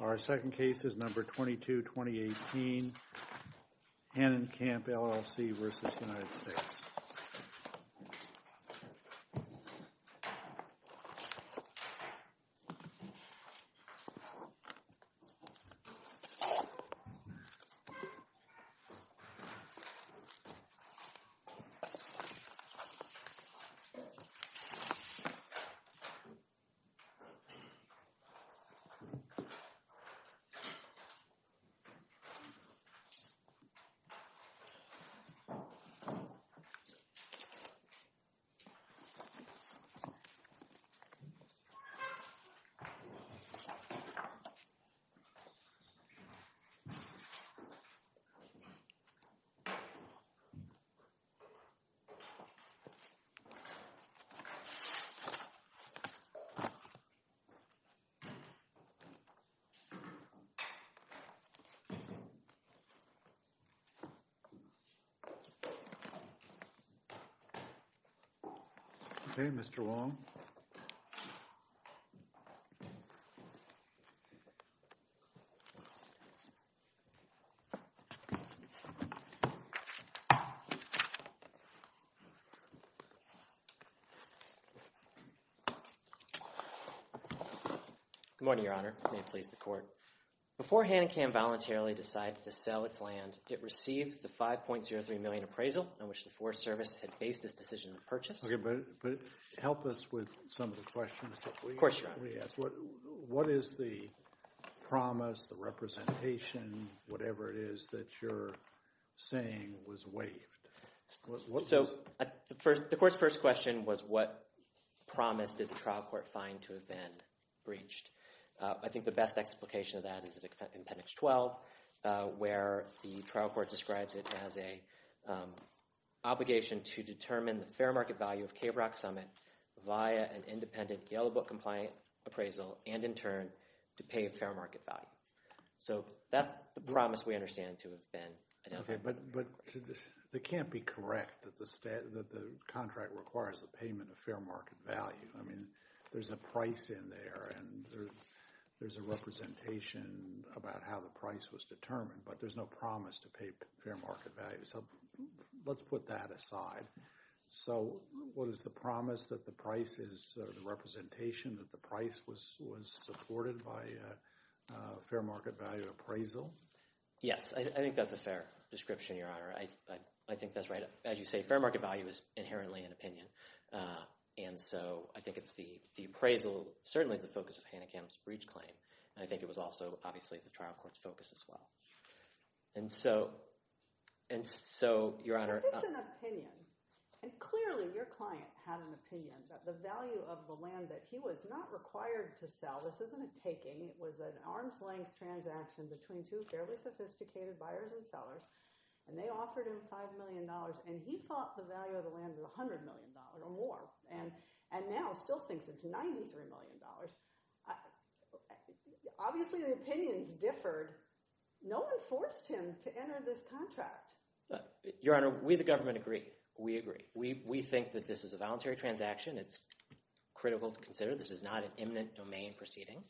Our second case is number 22-2018, Hannenkamm, LLC v. United States. Our first case is number 22-2018, Hannenkamm, LLC v. United States. Okay, Mr. Wong. Good morning, Your Honor. May it please the Court, please. Before Hannenkamm voluntarily decided to sell its land, it received the $5.03 million appraisal on which the Forest Service had based this decision of purchase. Okay, but help us with some of the questions that we ask. Of course, Your Honor. What is the promise, the representation, whatever it is that you're saying was waived? So, the Court's first question was what promise did the trial court find to have been breached? I think the best explication of that is in Appendix 12, where the trial court describes it as a obligation to determine the fair market value of Cave Rock Summit via an independent, yellow book compliant appraisal and, in turn, to pay a fair market value. So, that's the promise we understand to have been identified. Okay, but it can't be correct that the contract requires the payment of fair market value. I mean, there's a price in there and there's a representation about how the price was determined, but there's no promise to pay fair market value. So, let's put that aside. So, what is the promise that the price is, or the representation that the price was supported by a fair market value appraisal? Yes, I think that's a fair description, Your Honor. I think that's right. As you say, fair market value is inherently an opinion. And so, I think it's the appraisal certainly is the focus of Hannah Kemp's breach claim, and I think it was also, obviously, the trial court's focus as well. And so, Your Honor— If it's an opinion, and clearly your client had an opinion that the value of the land that he was not required to sell, this isn't a taking, it was an arm's length transaction between two fairly sophisticated buyers and sellers, and they offered him $5 million, and he thought the value of the land was $100 million or more, and now still thinks it's $93 million. Obviously, the opinions differed. No one forced him to enter this contract. Your Honor, we, the government, agree. We agree. We think that this is a voluntary transaction. It's critical to consider. This is not an imminent domain proceeding.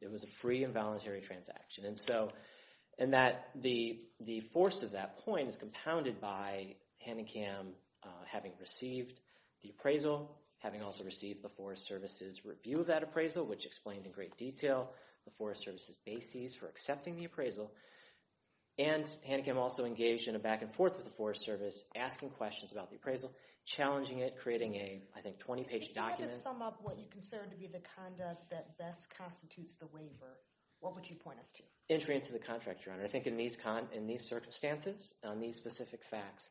It was a free and voluntary transaction. And the force of that point is compounded by Hannah Kemp having received the appraisal, having also received the Forest Service's review of that appraisal, which explained in great detail the Forest Service's bases for accepting the appraisal, and Hannah Kemp also engaged in a back-and-forth with the Forest Service, asking questions about the appraisal, challenging it, creating a, I think, 20-page document. If you had to sum up what you consider to be the conduct that best constitutes the waiver, what would you point us to? Entry into the contract, Your Honor. I think in these circumstances, on these specific facts,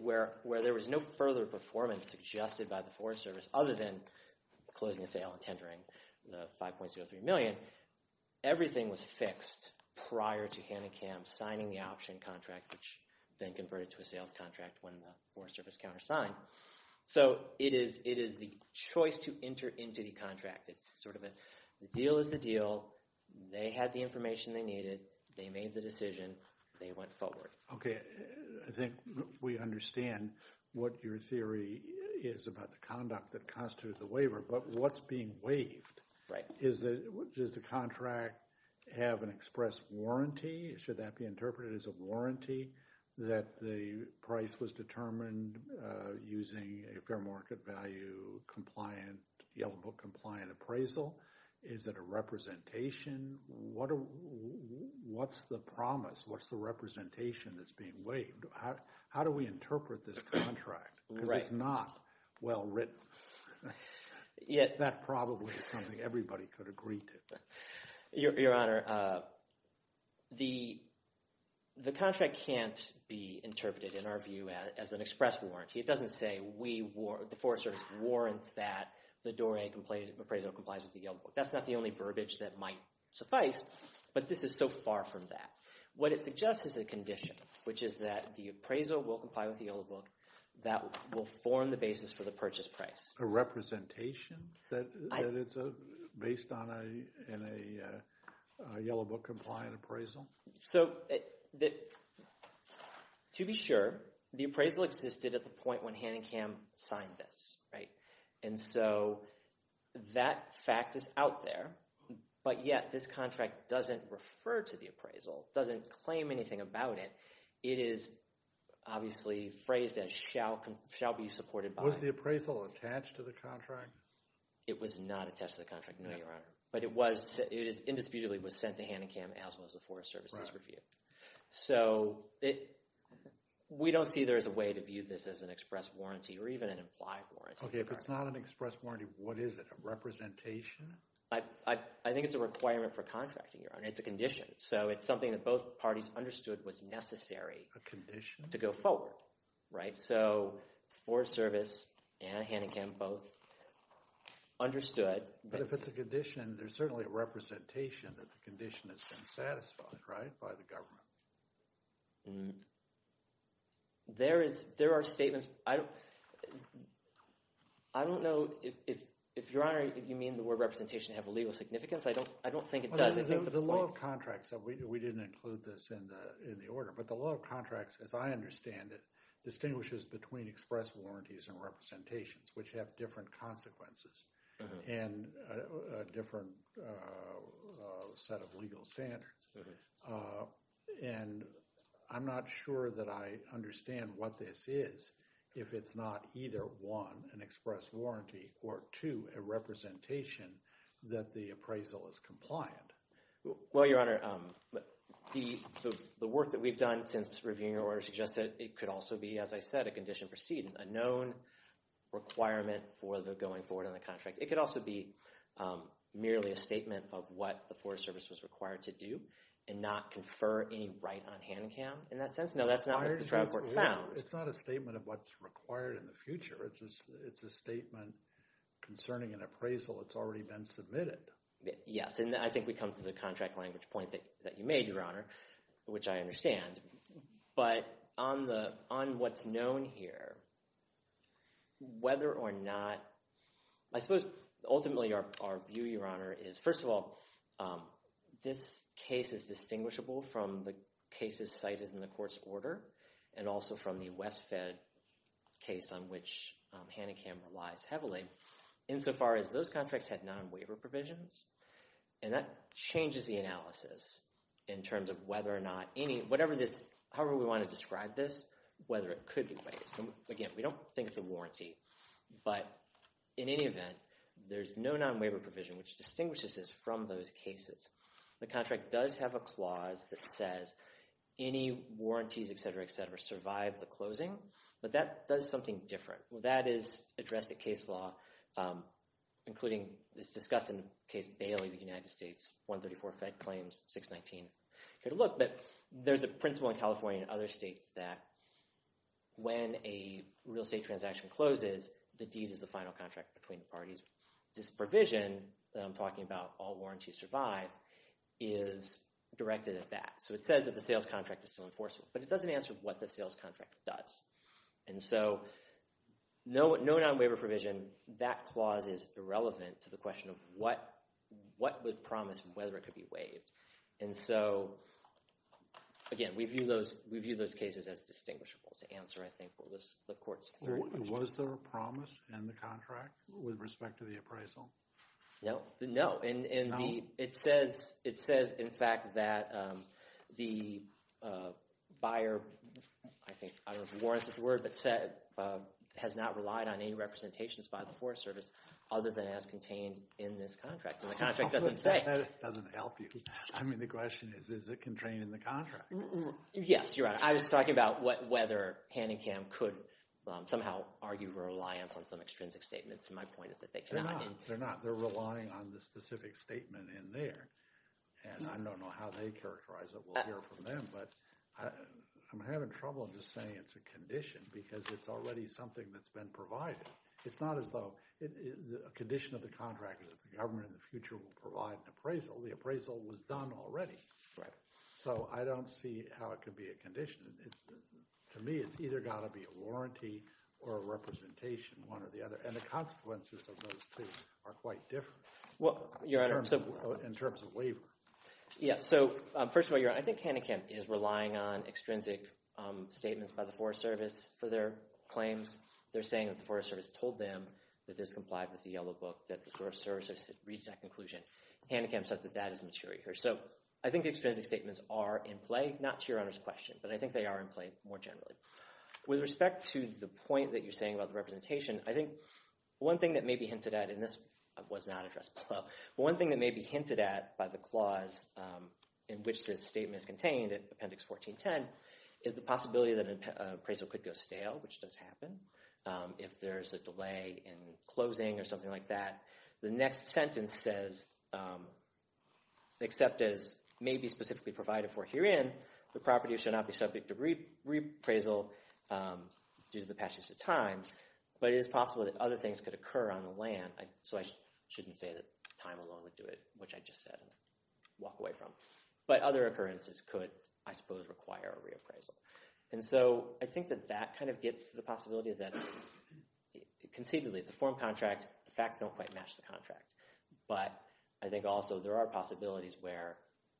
where there was no further performance suggested by the Forest Service other than closing the sale and tendering the $5.03 million, everything was fixed prior to Hannah Kemp signing the option contract, which then converted to a sales contract when the Forest Service countersigned. So it is the choice to enter into the contract. The deal is the deal. They had the information they needed. They made the decision. They went forward. Okay. I think we understand what your theory is about the conduct that constitutes the waiver, but what's being waived? Does the contract have an express warranty? Should that be interpreted as a warranty that the price was determined using a fair market value compliant, yellow book compliant appraisal? Is it a representation? What's the promise? What's the representation that's being waived? How do we interpret this contract? Because it's not well written. That probably is something everybody could agree to. Your Honor, the contract can't be interpreted, in our view, as an express warranty. It doesn't say the Forest Service warrants that the Doré appraisal complies with the yellow book. That's not the only verbiage that might suffice, but this is so far from that. What it suggests is a condition, which is that the appraisal will comply with the yellow book that will form the basis for the purchase price. A representation that it's based on in a yellow book compliant appraisal? So, to be sure, the appraisal existed at the point when Hanningham signed this, right? And so that fact is out there, but yet this contract doesn't refer to the appraisal, doesn't claim anything about it. It is obviously phrased as shall be supported by. Was the appraisal attached to the contract? It was not attached to the contract, no, Your Honor. But it was, it indisputably was sent to Hanningham as was the Forest Service's review. So, we don't see there as a way to view this as an express warranty or even an implied warranty. Okay, if it's not an express warranty, what is it? A representation? I think it's a requirement for contracting, Your Honor. It's a condition. So it's something that both parties understood was necessary to go forward. Right, so Forest Service and Hanningham both understood. But if it's a condition, there's certainly a representation that the condition has been satisfied, right, by the government. There are statements. I don't know if, Your Honor, you mean the word representation has a legal significance? I don't think it does. The law of contracts, we didn't include this in the order, but the law of contracts, as I understand it, distinguishes between express warranties and representations, which have different consequences and a different set of legal standards. And I'm not sure that I understand what this is if it's not either, one, an express warranty, or, two, a representation that the appraisal is compliant. Well, Your Honor, the work that we've done since reviewing your order suggests that it could also be, as I said, a condition proceeding, a known requirement for the going forward on the contract. It could also be merely a statement of what the Forest Service was required to do and not confer any right on Hanningham in that sense. No, that's not what the Tribal Court found. It's not a statement of what's required in the future. It's a statement concerning an appraisal that's already been submitted. Yes, and I think we come to the contract language point that you made, Your Honor, which I understand. But on what's known here, whether or not, I suppose ultimately our view, Your Honor, is, first of all, this case is distinguishable from the cases cited in the court's order and also from the West Fed case on which Hanningham relies heavily insofar as those contracts had non-waiver provisions. And that changes the analysis in terms of whether or not any, whatever this, however we want to describe this, whether it could be waived. Again, we don't think it's a warranty. But in any event, there's no non-waiver provision which distinguishes this from those cases. The contract does have a clause that says any warranties, et cetera, et cetera, survive the closing. But that does something different. Well, that is addressed at case law, including it's discussed in Case Bailey of the United States, 134 Fed Claims, 619th. But there's a principle in California and other states that when a real estate transaction closes, the deed is the final contract between the parties. And this provision that I'm talking about, all warranties survive, is directed at that. So it says that the sales contract is still enforceable. But it doesn't answer what the sales contract does. And so no non-waiver provision, that clause is irrelevant to the question of what would promise and whether it could be waived. And so, again, we view those cases as distinguishable to answer, I think, what was the court's third question. Was there a promise in the contract with respect to the appraisal? No. No. And it says, in fact, that the buyer, I think, I don't know if warrants is the word, but has not relied on any representations by the Forest Service other than as contained in this contract. And the contract doesn't say. That doesn't help you. I mean, the question is, is it contained in the contract? Yes, Your Honor. I was talking about whether Pan and Kam could somehow argue reliance on some extrinsic statements. And my point is that they cannot. They're not. They're relying on the specific statement in there. And I don't know how they characterize it. We'll hear from them. But I'm having trouble just saying it's a condition because it's already something that's been provided. It's not as though a condition of the contract is that the government in the future will provide an appraisal. The appraisal was done already. Right. So I don't see how it could be a condition. To me, it's either got to be a warranty or a representation, one or the other. And the consequences of those two are quite different in terms of waiver. Yes. So first of all, Your Honor, I think Pan and Kam is relying on extrinsic statements by the Forest Service for their claims. They're saying that the Forest Service told them that this complied with the Yellow Book, that the Forest Service has reached that conclusion. Pan and Kam says that that is material. So I think extrinsic statements are in play. Not to Your Honor's question, but I think they are in play more generally. With respect to the point that you're saying about the representation, I think one thing that may be hinted at, and this was not addressed below, but one thing that may be hinted at by the clause in which this statement is contained in Appendix 1410 is the possibility that an appraisal could go stale, which does happen, if there's a delay in closing or something like that. The next sentence says, except as may be specifically provided for herein, the property should not be subject to reappraisal due to the passage of time. But it is possible that other things could occur on the land. So I shouldn't say that time alone would do it, which I just said and walk away from. But other occurrences could, I suppose, require a reappraisal. And so I think that that kind of gets to the possibility that conceivably it's a form contract. The facts don't quite match the contract. But I think also there are possibilities where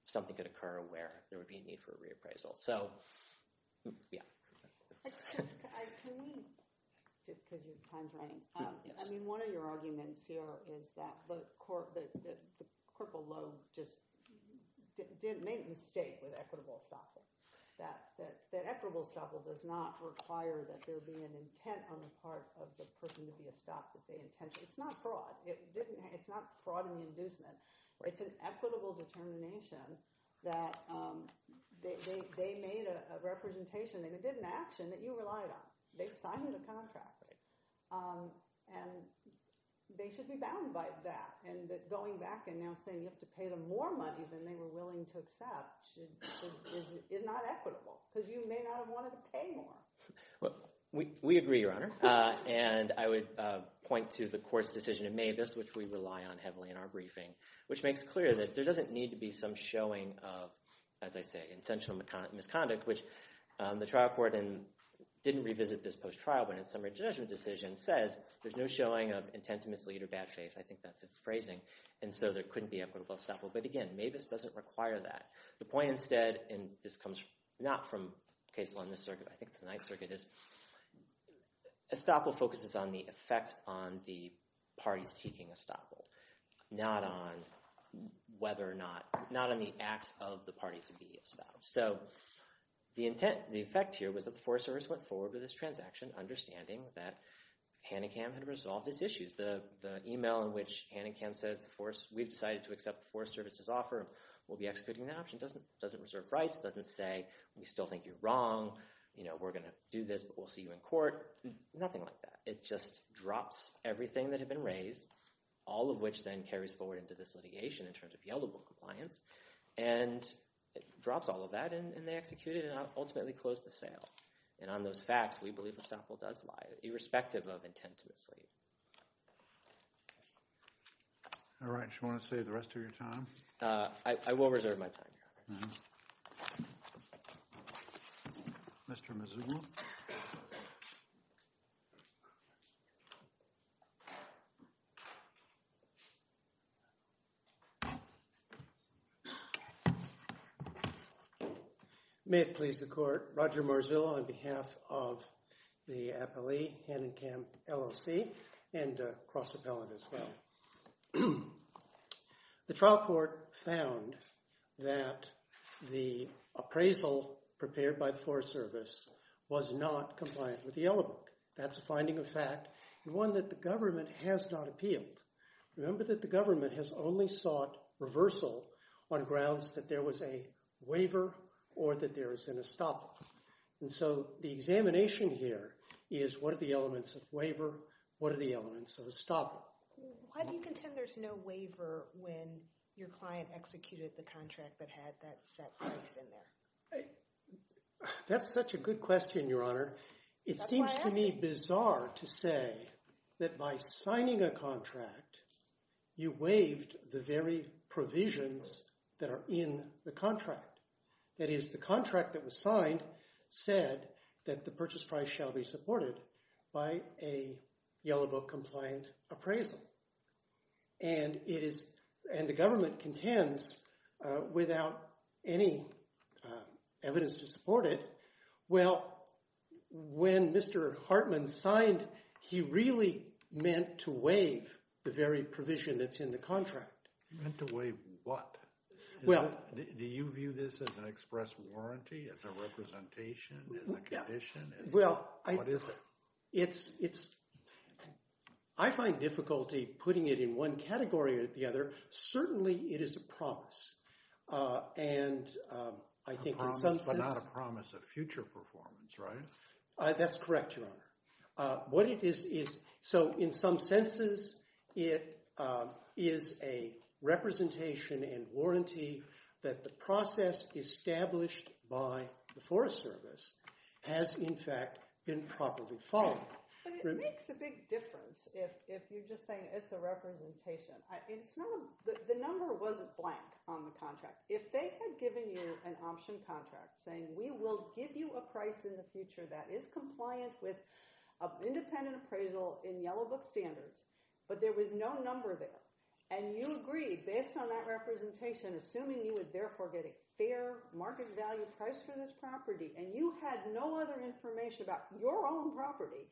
something could occur where there would be a need for a reappraisal. So, yeah. Can we, because your time's running, I mean, one of your arguments here is that the corporal lobe just made a mistake with equitable estoppel. That equitable estoppel does not require that there be an intent on the part of the person to be estopped with the intention. It's not fraud. It's not fraud and inducement. It's an equitable determination that they made a representation, they did an action that you relied on. They signed a contract. And they should be bound by that. And going back and now saying you have to pay them more money than they were willing to accept We agree, Your Honor. And I would point to the court's decision in Mabus, which we rely on heavily in our briefing, which makes it clear that there doesn't need to be some showing of, as I say, intentional misconduct, which the trial court didn't revisit this post-trial, but in a summary judgment decision says there's no showing of intent to mislead or bad faith. I think that's its phrasing. And so there couldn't be equitable estoppel. But again, Mabus doesn't require that. The point instead, and this comes not from case law in this circuit, is estoppel focuses on the effect on the parties seeking estoppel, not on whether or not, not on the acts of the party to be estoppel. So the effect here was that the Forest Service went forward with this transaction understanding that Hanicam had resolved its issues. The email in which Hanicam says we've decided to accept the Forest Service's offer and we'll be executing the option doesn't reserve rights. It doesn't say we still think you're wrong. You know, we're going to do this, but we'll see you in court. Nothing like that. It just drops everything that had been raised, all of which then carries forward into this litigation in terms of yieldable compliance, and it drops all of that and they execute it and ultimately close the sale. And on those facts, we believe estoppel does lie, irrespective of intent to mislead. All right. Do you want to save the rest of your time? I will reserve my time. Mr. Mazzullo. May it please the Court. Roger Marzullo on behalf of the appellee, Hanicam LLC, and Cross Appellate as well. The trial court found that the appraisal prepared by the Forest Service was not compliant with the Yellow Book. That's a finding of fact and one that the government has not appealed. Remember that the government has only sought reversal on grounds that there was a waiver or that there is an estoppel. And so the examination here is what are the elements of waiver, what are the elements of estoppel? Why do you contend there's no waiver when your client executed the contract that had that set price in there? That's such a good question, Your Honor. It seems to me bizarre to say that by signing a contract, you waived the very provisions that are in the contract. That is, the contract that was signed said that the purchase price shall be supported by a Yellow Book-compliant appraisal. And the government contends without any evidence to support it. Well, when Mr. Hartman signed, he really meant to waive the very provision that's in the contract. He meant to waive what? Do you view this as an express warranty, as a representation, as a condition? Well, I... What is it? It's... I find difficulty putting it in one category or the other. Certainly, it is a promise. And I think in some sense... A promise, but not a promise of future performance, right? That's correct, Your Honor. What it is, is... So, in some senses, it is a representation and warranty that the process established by the Forest Service has, in fact, been properly followed. But it makes a big difference if you're just saying it's a representation. It's not... The number wasn't blank on the contract. If they had given you an option contract saying, we will give you a price in the future that is compliant with an independent appraisal in Yellow Book standards, but there was no number there, and you agreed based on that representation, assuming you would therefore get a fair market value price for this property, and you had no other information about your own property,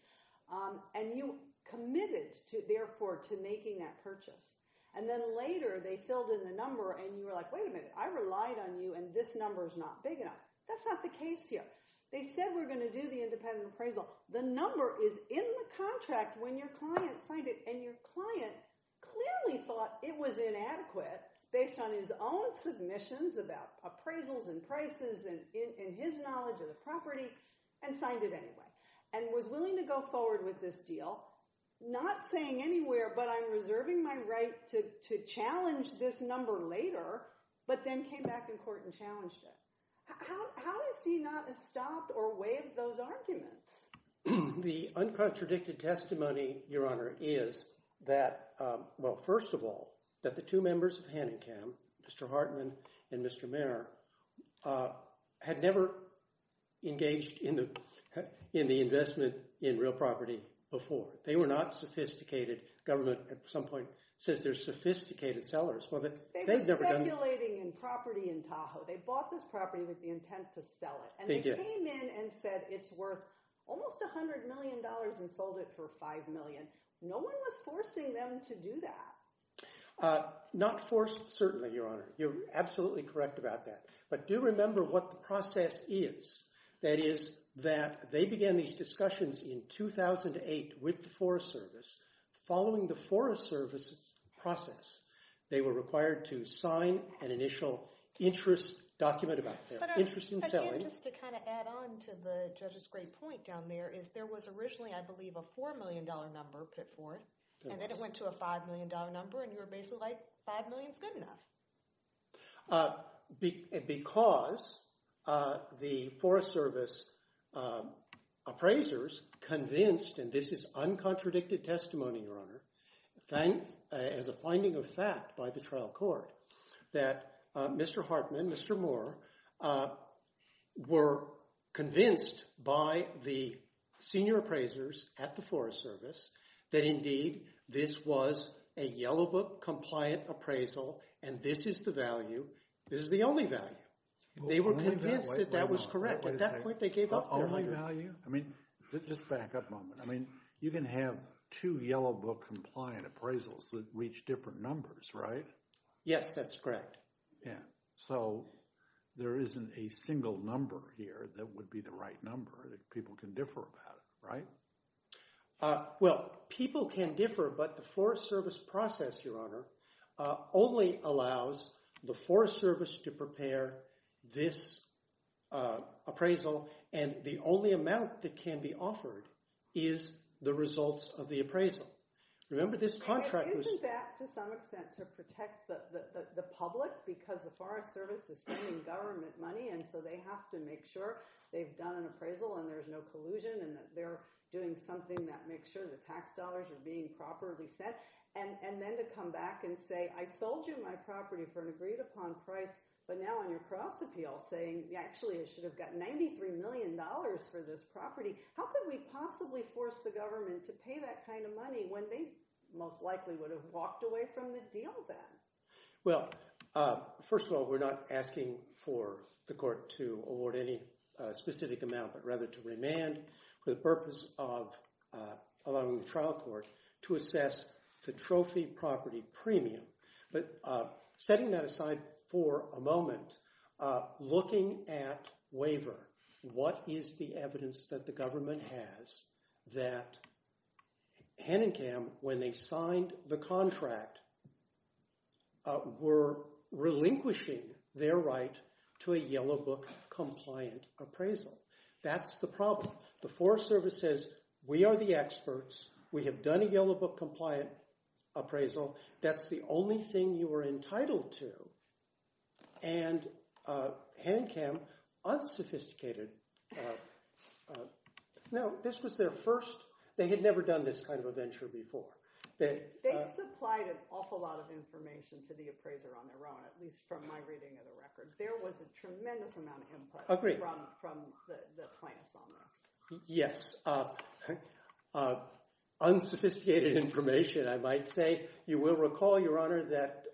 and you committed, therefore, to making that purchase. And then later, they filled in the number, and you were like, wait a minute, I relied on you, and this number is not big enough. That's not the case here. They said we're going to do the independent appraisal. The number is in the contract when your client signed it, and your client clearly thought it was inadequate based on his own submissions about appraisals and prices and his knowledge of the property and signed it anyway and was willing to go forward with this deal, not saying anywhere, but I'm reserving my right to challenge this number later, but then came back in court and challenged it. How is he not stopped or waived those arguments? The uncontradicted testimony, Your Honor, is that, well, first of all, that the two members of Hanenkam, Mr. Hartman and Mr. Mayer, had never engaged in the investment in real property before. They were not sophisticated. Government at some point says they're sophisticated sellers. They were speculating in property in Tahoe. They bought this property with the intent to sell it, and they came in and said it's worth almost $100 million and sold it for $5 million. No one was forcing them to do that. Not forced, certainly, Your Honor. You're absolutely correct about that. But do remember what the process is. That is that they began these discussions in 2008 with the Forest Service. Following the Forest Service's process, they were required to sign an initial interest document about their interest in selling. Just to kind of add on to the judge's great point down there is there was originally, I believe, a $4 million number put forth, and then it went to a $5 million number, and you were basically like $5 million is good enough. Because the Forest Service appraisers convinced, and this is uncontradicted testimony, Your Honor, as a finding of fact by the trial court, that Mr. Hartman, Mr. Moore, were convinced by the senior appraisers at the Forest Service that indeed this was a Yellow Book-compliant appraisal, and this is the value. This is the only value. They were convinced that that was correct. At that point, they gave up their money. The only value? I mean, just back up a moment. I mean, you can have two Yellow Book-compliant appraisals that reach different numbers, right? Yes, that's correct. Yeah. So there isn't a single number here that would be the right number that people can differ about it, right? Well, people can differ, but the Forest Service process, Your Honor, only allows the Forest Service to prepare this appraisal, and the only amount that can be offered is the results of the appraisal. Remember this contract was— it was to protect the public because the Forest Service is spending government money, and so they have to make sure they've done an appraisal and there's no collusion and that they're doing something that makes sure the tax dollars are being properly sent, and then to come back and say, I sold you my property for an agreed-upon price, but now on your cross-appeal saying, actually, I should have got $93 million for this property. How could we possibly force the government to pay that kind of money when they most likely would have walked away from the deal then? Well, first of all, we're not asking for the court to award any specific amount, but rather to remand for the purpose of allowing the trial court to assess the trophy property premium. But setting that aside for a moment, looking at waiver, what is the evidence that the government has that Hen and Kam, when they signed the contract, were relinquishing their right to a Yellow Book compliant appraisal? That's the problem. The Forest Service says, we are the experts. We have done a Yellow Book compliant appraisal. That's the only thing you are entitled to. And Hen and Kam unsophisticated— No, this was their first. They had never done this kind of a venture before. They supplied an awful lot of information to the appraiser on their own, at least from my reading of the record. There was a tremendous amount of input from the plaintiffs on this. Yes, unsophisticated information, I might say. You will recall, Your Honor, that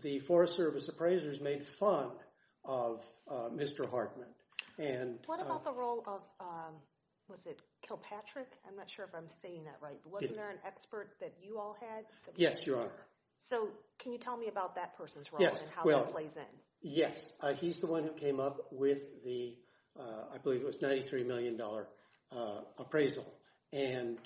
the Forest Service appraisers made fun of Mr. Hartman. What about the role of—was it Kilpatrick? I'm not sure if I'm saying that right. Wasn't there an expert that you all had? Yes, Your Honor. So can you tell me about that person's role and how that plays in? Yes, he's the one who came up with the—I believe it was $93 million appraisal. And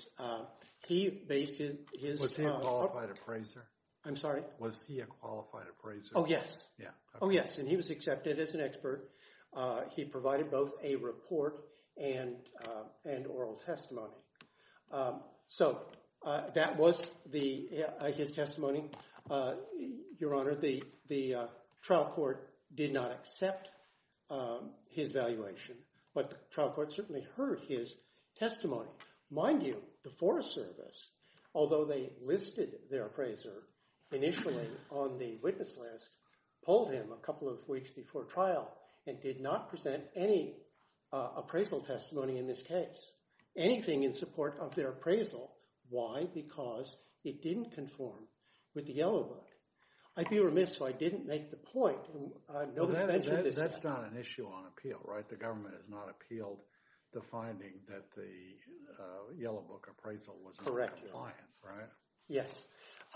he based his— Was he a qualified appraiser? I'm sorry? Was he a qualified appraiser? Oh, yes. Oh, yes, and he was accepted as an expert. He provided both a report and oral testimony. So that was his testimony, Your Honor. The trial court did not accept his valuation, but the trial court certainly heard his testimony. Mind you, the Forest Service, although they listed their appraiser initially on the witness list, polled him a couple of weeks before trial and did not present any appraisal testimony in this case, anything in support of their appraisal. Why? Because it didn't conform with the Yellow Book. I'd be remiss if I didn't make the point. No one mentioned this. That's not an issue on appeal, right? The government has not appealed the finding that the Yellow Book appraisal was not compliant, right? Yes.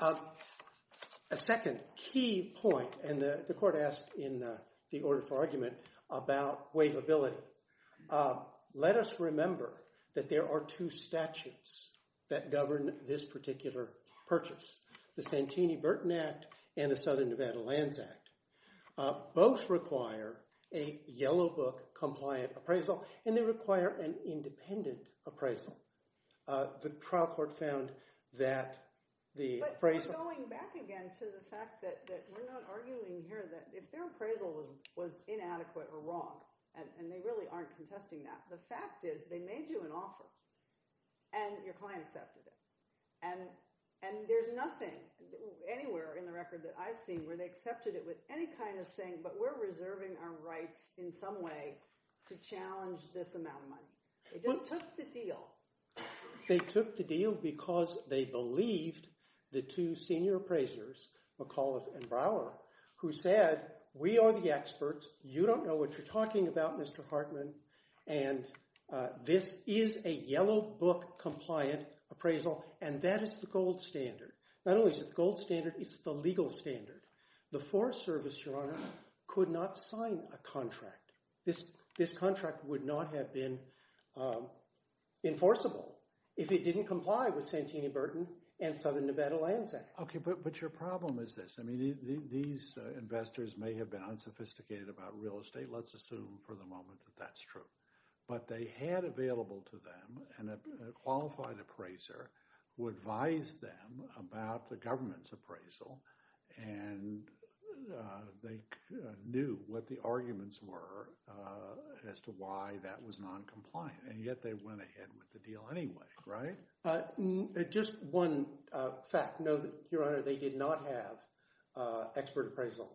A second key point, and the court asked in the order for argument about waivability, let us remember that there are two statutes that govern this particular purchase, the Santini-Burton Act and the Southern Nevada Lands Act. Both require a Yellow Book compliant appraisal, and they require an independent appraisal. The trial court found that the appraisal— But going back again to the fact that we're not arguing here that if their appraisal was inadequate or wrong, and they really aren't contesting that, the fact is they made you an offer and your client accepted it. And there's nothing anywhere in the record that I've seen where they accepted it with any kind of saying, but we're reserving our rights in some way to challenge this amount of money. They just took the deal. They took the deal because they believed the two senior appraisers, McAuliffe and Brower, who said, we are the experts, you don't know what you're talking about, Mr. Hartman, and this is a Yellow Book compliant appraisal, and that is the gold standard. Not only is it the gold standard, it's the legal standard. The Forest Service, Your Honor, could not sign a contract. This contract would not have been enforceable if it didn't comply with Santini-Burton and Southern Nevada Lands Act. Okay, but your problem is this. I mean these investors may have been unsophisticated about real estate. Let's assume for the moment that that's true. But they had available to them a qualified appraiser who advised them about the government's appraisal, and they knew what the arguments were as to why that was noncompliant, and yet they went ahead with the deal anyway, right? Just one fact. No, Your Honor, they did not have expert appraisal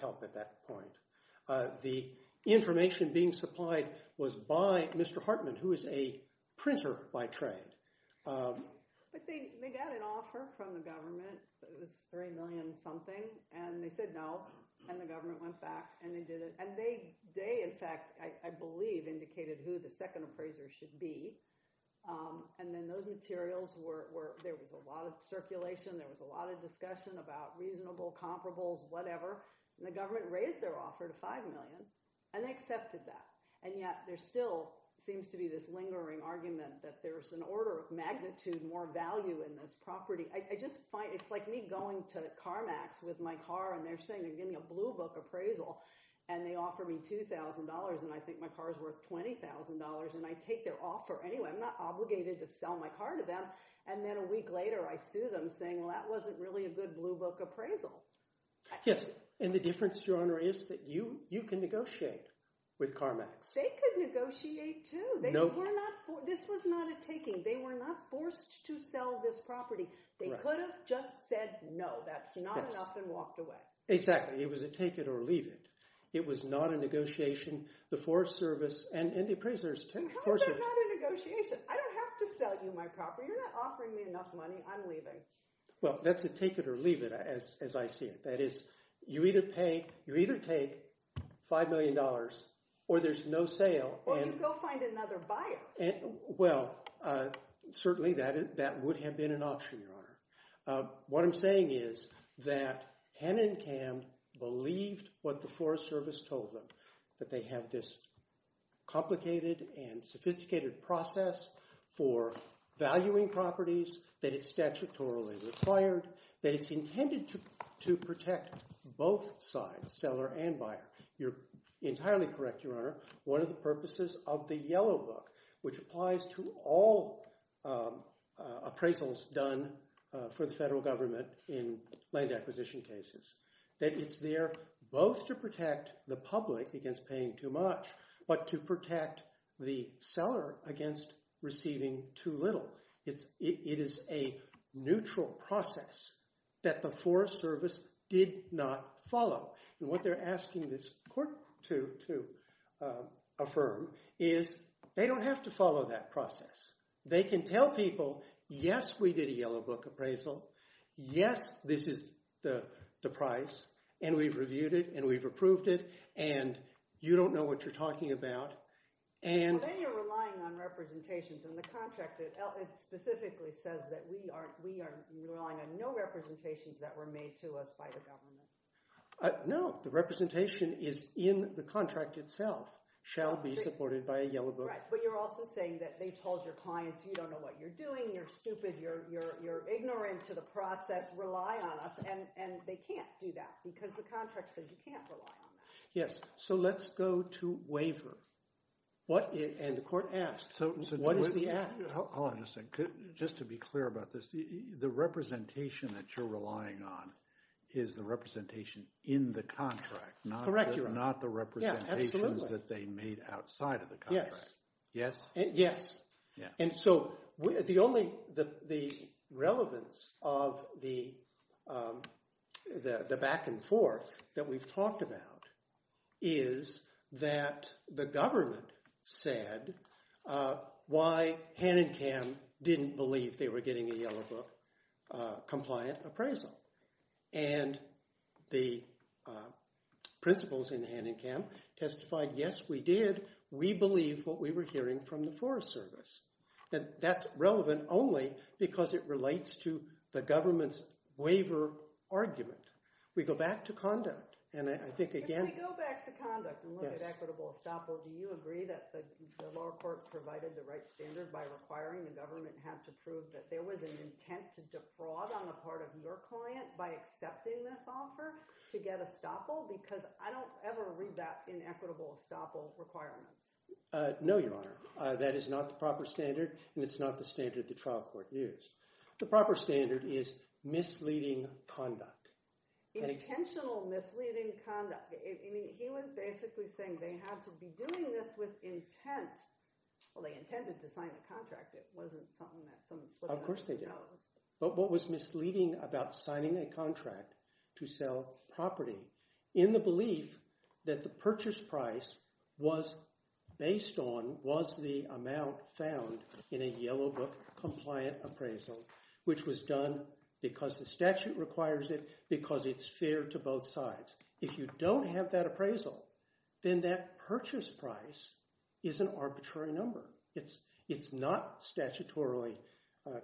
help at that point. The information being supplied was by Mr. Hartman, who is a printer by trade. But they got an offer from the government. It was $3 million something, and they said no, and the government went back, and they did it. And they, in fact, I believe indicated who the second appraiser should be, and then those materials were – there was a lot of circulation. There was a lot of discussion about reasonable comparables, whatever, and the government raised their offer to $5 million, and they accepted that. And yet there still seems to be this lingering argument that there's an order of magnitude more value in this property. I just find – it's like me going to CarMax with my car, and they're saying they're giving me a blue book appraisal, and they offer me $2,000, and I think my car is worth $20,000, and I take their offer anyway. I'm not obligated to sell my car to them, and then a week later I sue them saying, well, that wasn't really a good blue book appraisal. Yes, and the difference, Your Honor, is that you can negotiate with CarMax. They could negotiate too. They were not – this was not a taking. They were not forced to sell this property. They could have just said no, that's not enough, and walked away. Exactly. It was a take it or leave it. It was not a negotiation. The Forest Service and the appraisers – How is that not a negotiation? I don't have to sell you my property. You're not offering me enough money. I'm leaving. Well, that's a take it or leave it as I see it. That is, you either pay – you either take $5 million or there's no sale. Or you go find another buyer. Well, certainly that would have been an option, Your Honor. What I'm saying is that Hen and Cam believed what the Forest Service told them, that they have this complicated and sophisticated process for valuing properties, that it's statutorily required, that it's intended to protect both sides, seller and buyer. You're entirely correct, Your Honor. One of the purposes of the Yellow Book, which applies to all appraisals done for the federal government in land acquisition cases, that it's there both to protect the public against paying too much but to protect the seller against receiving too little. It is a neutral process that the Forest Service did not follow. And what they're asking this court to affirm is they don't have to follow that process. They can tell people, yes, we did a Yellow Book appraisal. Yes, this is the price, and we've reviewed it, and we've approved it, and you don't know what you're talking about. So then you're relying on representations, and the contract specifically says that we are relying on no representations that were made to us by the government. No, the representation is in the contract itself, shall be supported by a Yellow Book. Right, but you're also saying that they told your clients you don't know what you're doing, you're stupid, you're ignorant to the process, rely on us, and they can't do that because the contract says you can't rely on them. Yes, so let's go to waiver. And the court asks, what is the act? Hold on a second. Just to be clear about this, the representation that you're relying on is the representation in the contract, not the representations that they made outside of the contract. Yes. Yes? Yes. And so the relevance of the back and forth that we've talked about is that the government said why Hanenkam didn't believe they were getting a Yellow Book compliant appraisal. And the principals in Hanenkam testified, yes, we did. We believe what we were hearing from the Forest Service. And that's relevant only because it relates to the government's waiver argument. We go back to conduct, and I think, again— If we go back to conduct and look at equitable estoppel, do you agree that the lower court provided the right standard by requiring the government had to prove that there was an intent to defraud on the part of your client by accepting this offer to get estoppel? Because I don't ever read that in equitable estoppel requirements. No, Your Honor. That is not the proper standard, and it's not the standard the trial court used. The proper standard is misleading conduct. Intentional misleading conduct. I mean, he was basically saying they had to be doing this with intent. Well, they intended to sign a contract. It wasn't something that someone slipped in and out. Of course they did. But what was misleading about signing a contract to sell property, in the belief that the purchase price was based on, was the amount found in a Yellow Book compliant appraisal, which was done because the statute requires it, because it's fair to both sides. If you don't have that appraisal, then that purchase price is an arbitrary number. It's not statutorily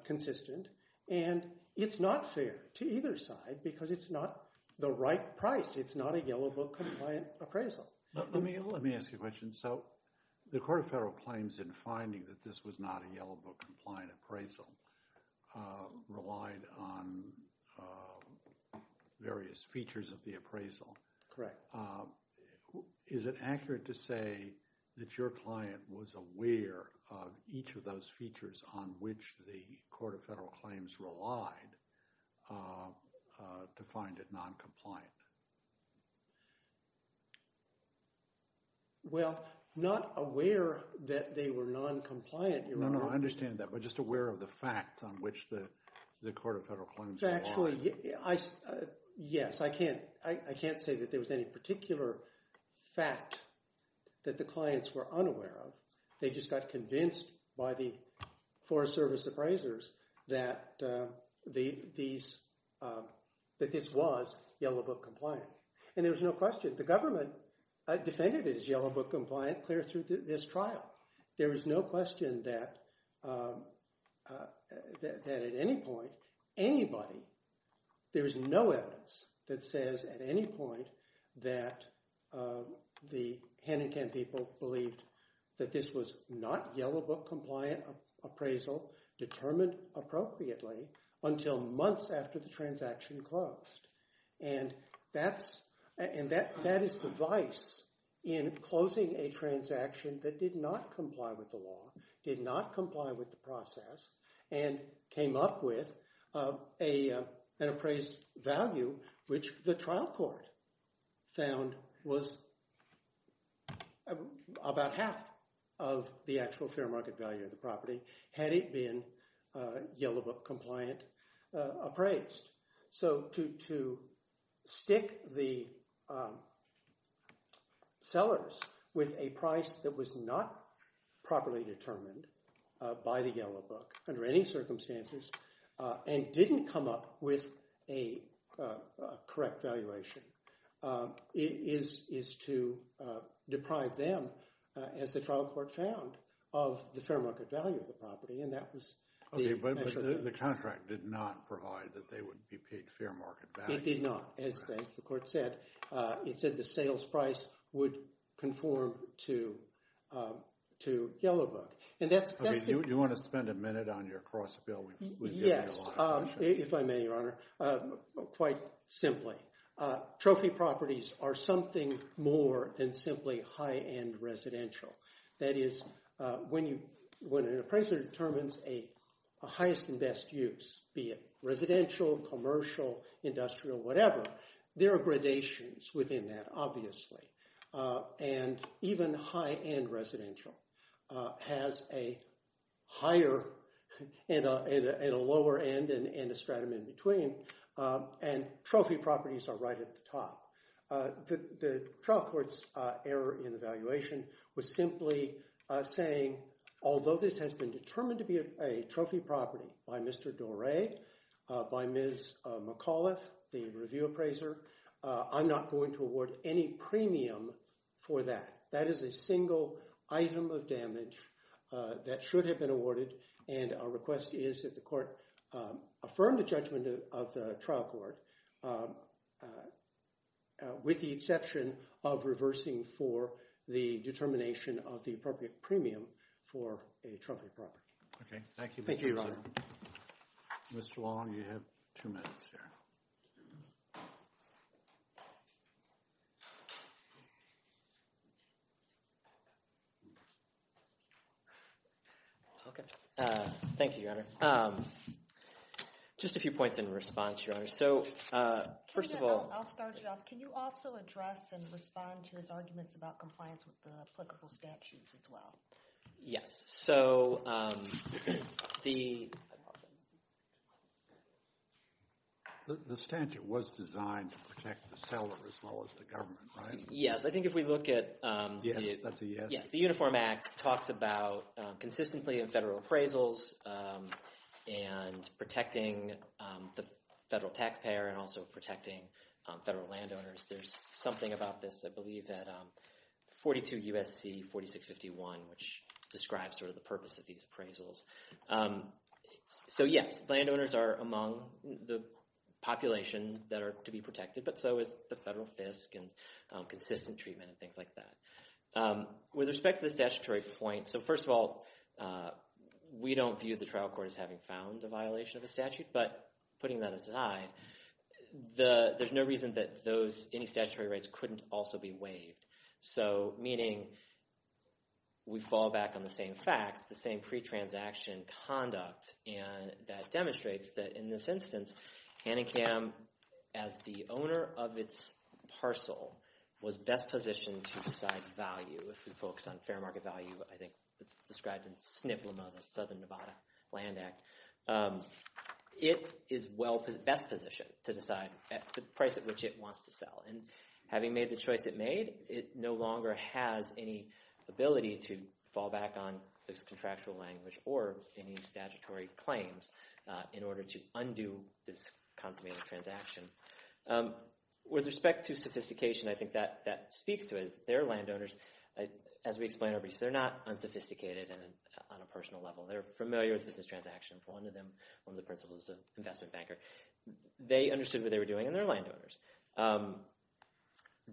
consistent, and it's not fair to either side because it's not the right price. It's not a Yellow Book compliant appraisal. Let me ask you a question. So the Court of Federal Claims, in finding that this was not a Yellow Book compliant appraisal, relied on various features of the appraisal. Correct. Is it accurate to say that your client was aware of each of those features on which the Court of Federal Claims relied to find it noncompliant? Well, not aware that they were noncompliant. No, no, I understand that, but just aware of the facts on which the Court of Federal Claims relied. Actually, yes. I can't say that there was any particular fact that the clients were unaware of. They just got convinced by the Forest Service appraisers that this was Yellow Book compliant. And there was no question. The government defended it as Yellow Book compliant clear through this trial. There is no question that at any point, anybody, there is no evidence that says at any point that the hand-in-hand people believed that this was not Yellow Book compliant appraisal determined appropriately until months after the transaction closed. And that is the vice in closing a transaction that did not comply with the law, did not comply with the process, and came up with an appraised value which the trial court found was about half of the actual fair market value of the property had it been Yellow Book compliant appraised. So to stick the sellers with a price that was not properly determined by the Yellow Book under any circumstances and didn't come up with a correct valuation is to deprive them, as the trial court found, of the fair market value of the property. Okay, but the contract did not provide that they would be paid fair market value. It did not, as the court said. It said the sales price would conform to Yellow Book. Okay, do you want to spend a minute on your cross bill? Yes, if I may, Your Honor. Quite simply, trophy properties are something more than simply high-end residential. That is, when an appraiser determines a highest and best use, be it residential, commercial, industrial, whatever, there are gradations within that, obviously. And even high-end residential has a higher and a lower end and a stratum in between, and trophy properties are right at the top. The trial court's error in the valuation was simply saying, although this has been determined to be a trophy property by Mr. Doré, by Ms. McAuliffe, the review appraiser, I'm not going to award any premium for that. That is a single item of damage that should have been awarded, and our request is that the court affirm the judgment of the trial court, with the exception of reversing for the determination of the appropriate premium for a trophy property. Okay, thank you. Thank you, Your Honor. Mr. Long, you have two minutes here. Okay, thank you, Your Honor. Just a few points in response, Your Honor. So, first of all— I'll start it off. Can you also address and respond to his arguments about compliance with the applicable statutes as well? Yes. So, the— The statute was designed to protect the seller as well as the government, right? Yes. I think if we look at— Yes, that's a yes. Yes, the Uniform Act talks about consistently in federal appraisals and protecting the federal taxpayer and also protecting federal landowners. There's something about this, I believe, that 42 U.S.C. 4651, which describes sort of the purpose of these appraisals. So, yes, landowners are among the population that are to be protected, but so is the federal FISC and consistent treatment and things like that. With respect to the statutory point— So, first of all, we don't view the trial court as having found a violation of a statute, but putting that aside, there's no reason that those—any statutory rights couldn't also be waived. So, meaning we fall back on the same facts, the same pre-transaction conduct, and that demonstrates that, in this instance, Hanningham, as the owner of its parcel, was best positioned to decide value. If we focus on fair market value, I think it's described in SNPLMA, the Southern Nevada Land Act. It is best positioned to decide the price at which it wants to sell. And having made the choice it made, it no longer has any ability to fall back on this contractual language or any statutory claims in order to undo this consummated transaction. With respect to sophistication, I think that speaks to it. Their landowners, as we explained, they're not unsophisticated on a personal level. They're familiar with business transactions. One of them, one of the principals is an investment banker. They understood what they were doing, and they're landowners.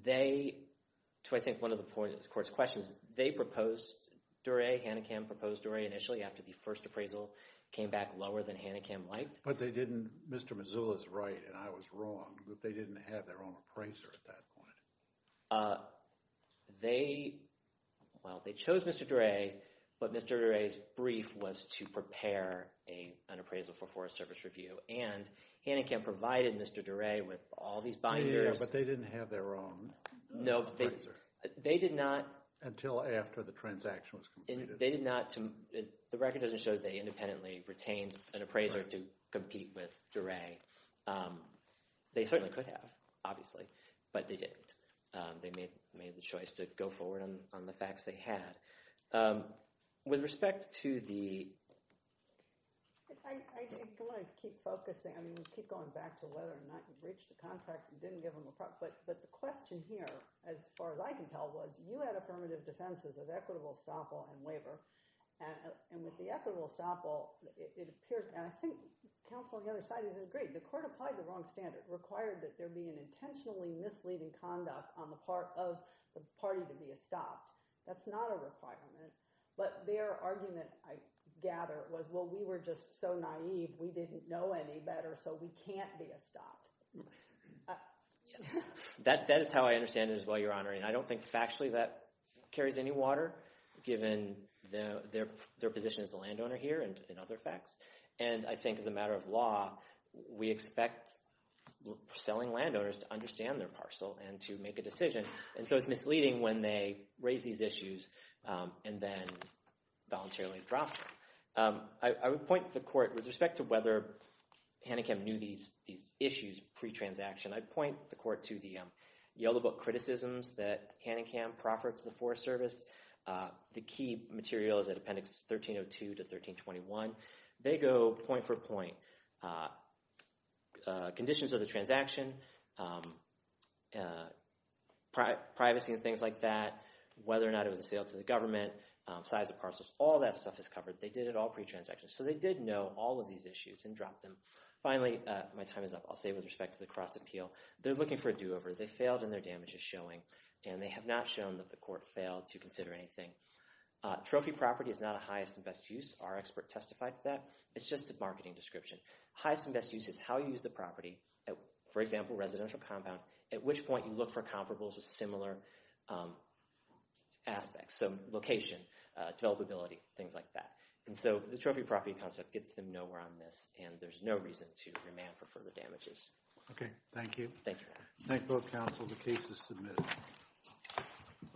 They—to, I think, one of the court's questions, they proposed—Duray, Hanningham proposed Duray initially after the first appraisal came back lower than Hanningham liked. But they didn't—Mr. Mazzullo's right, and I was wrong, but they didn't have their own appraiser at that point. They—well, they chose Mr. Duray, but Mr. Duray's brief was to prepare an appraisal for Forest Service Review. And Hanningham provided Mr. Duray with all these binders. Yeah, but they didn't have their own appraiser. They did not— Until after the transaction was completed. They did not—the record doesn't show that they independently retained an appraiser to compete with Duray. They certainly could have, obviously, but they didn't. They made the choice to go forward on the facts they had. With respect to the— I want to keep focusing. I mean, we keep going back to whether or not you breached a contract and didn't give them a— but the question here, as far as I can tell, was you had affirmative defenses of equitable estoppel and waiver. And with the equitable estoppel, it appears—and I think counsel on the other side has agreed. The court applied the wrong standard, required that there be an intentionally misleading conduct on the part of the party to be estopped. That's not a requirement, but their argument, I gather, was, well, we were just so naive, we didn't know any better, so we can't be estopped. That is how I understand it as well, Your Honor. And I don't think factually that carries any water, given their position as a landowner here and other facts. And I think as a matter of law, we expect selling landowners to understand their parcel and to make a decision. And so it's misleading when they raise these issues and then voluntarily drop them. I would point the court—with respect to whether Hanikem knew these issues pre-transaction, I'd point the court to the Yellow Book criticisms that Hanikem proffered to the Forest Service. The key material is in Appendix 1302 to 1321. They go point for point. Conditions of the transaction, privacy and things like that, whether or not it was a sale to the government, size of parcels, all that stuff is covered. They did it all pre-transaction, so they did know all of these issues and dropped them. Finally, my time is up. I'll say with respect to the cross-appeal, they're looking for a do-over. They failed in their damages showing, and they have not shown that the court failed to consider anything. Trophy property is not a highest and best use. Our expert testified to that. It's just a marketing description. Highest and best use is how you use the property. For example, residential compound, at which point you look for comparables with similar aspects. So location, developability, things like that. So the trophy property concept gets them nowhere on this, and there's no reason to demand for further damages. Okay, thank you. Thank you. Thank both counsel. The case is submitted.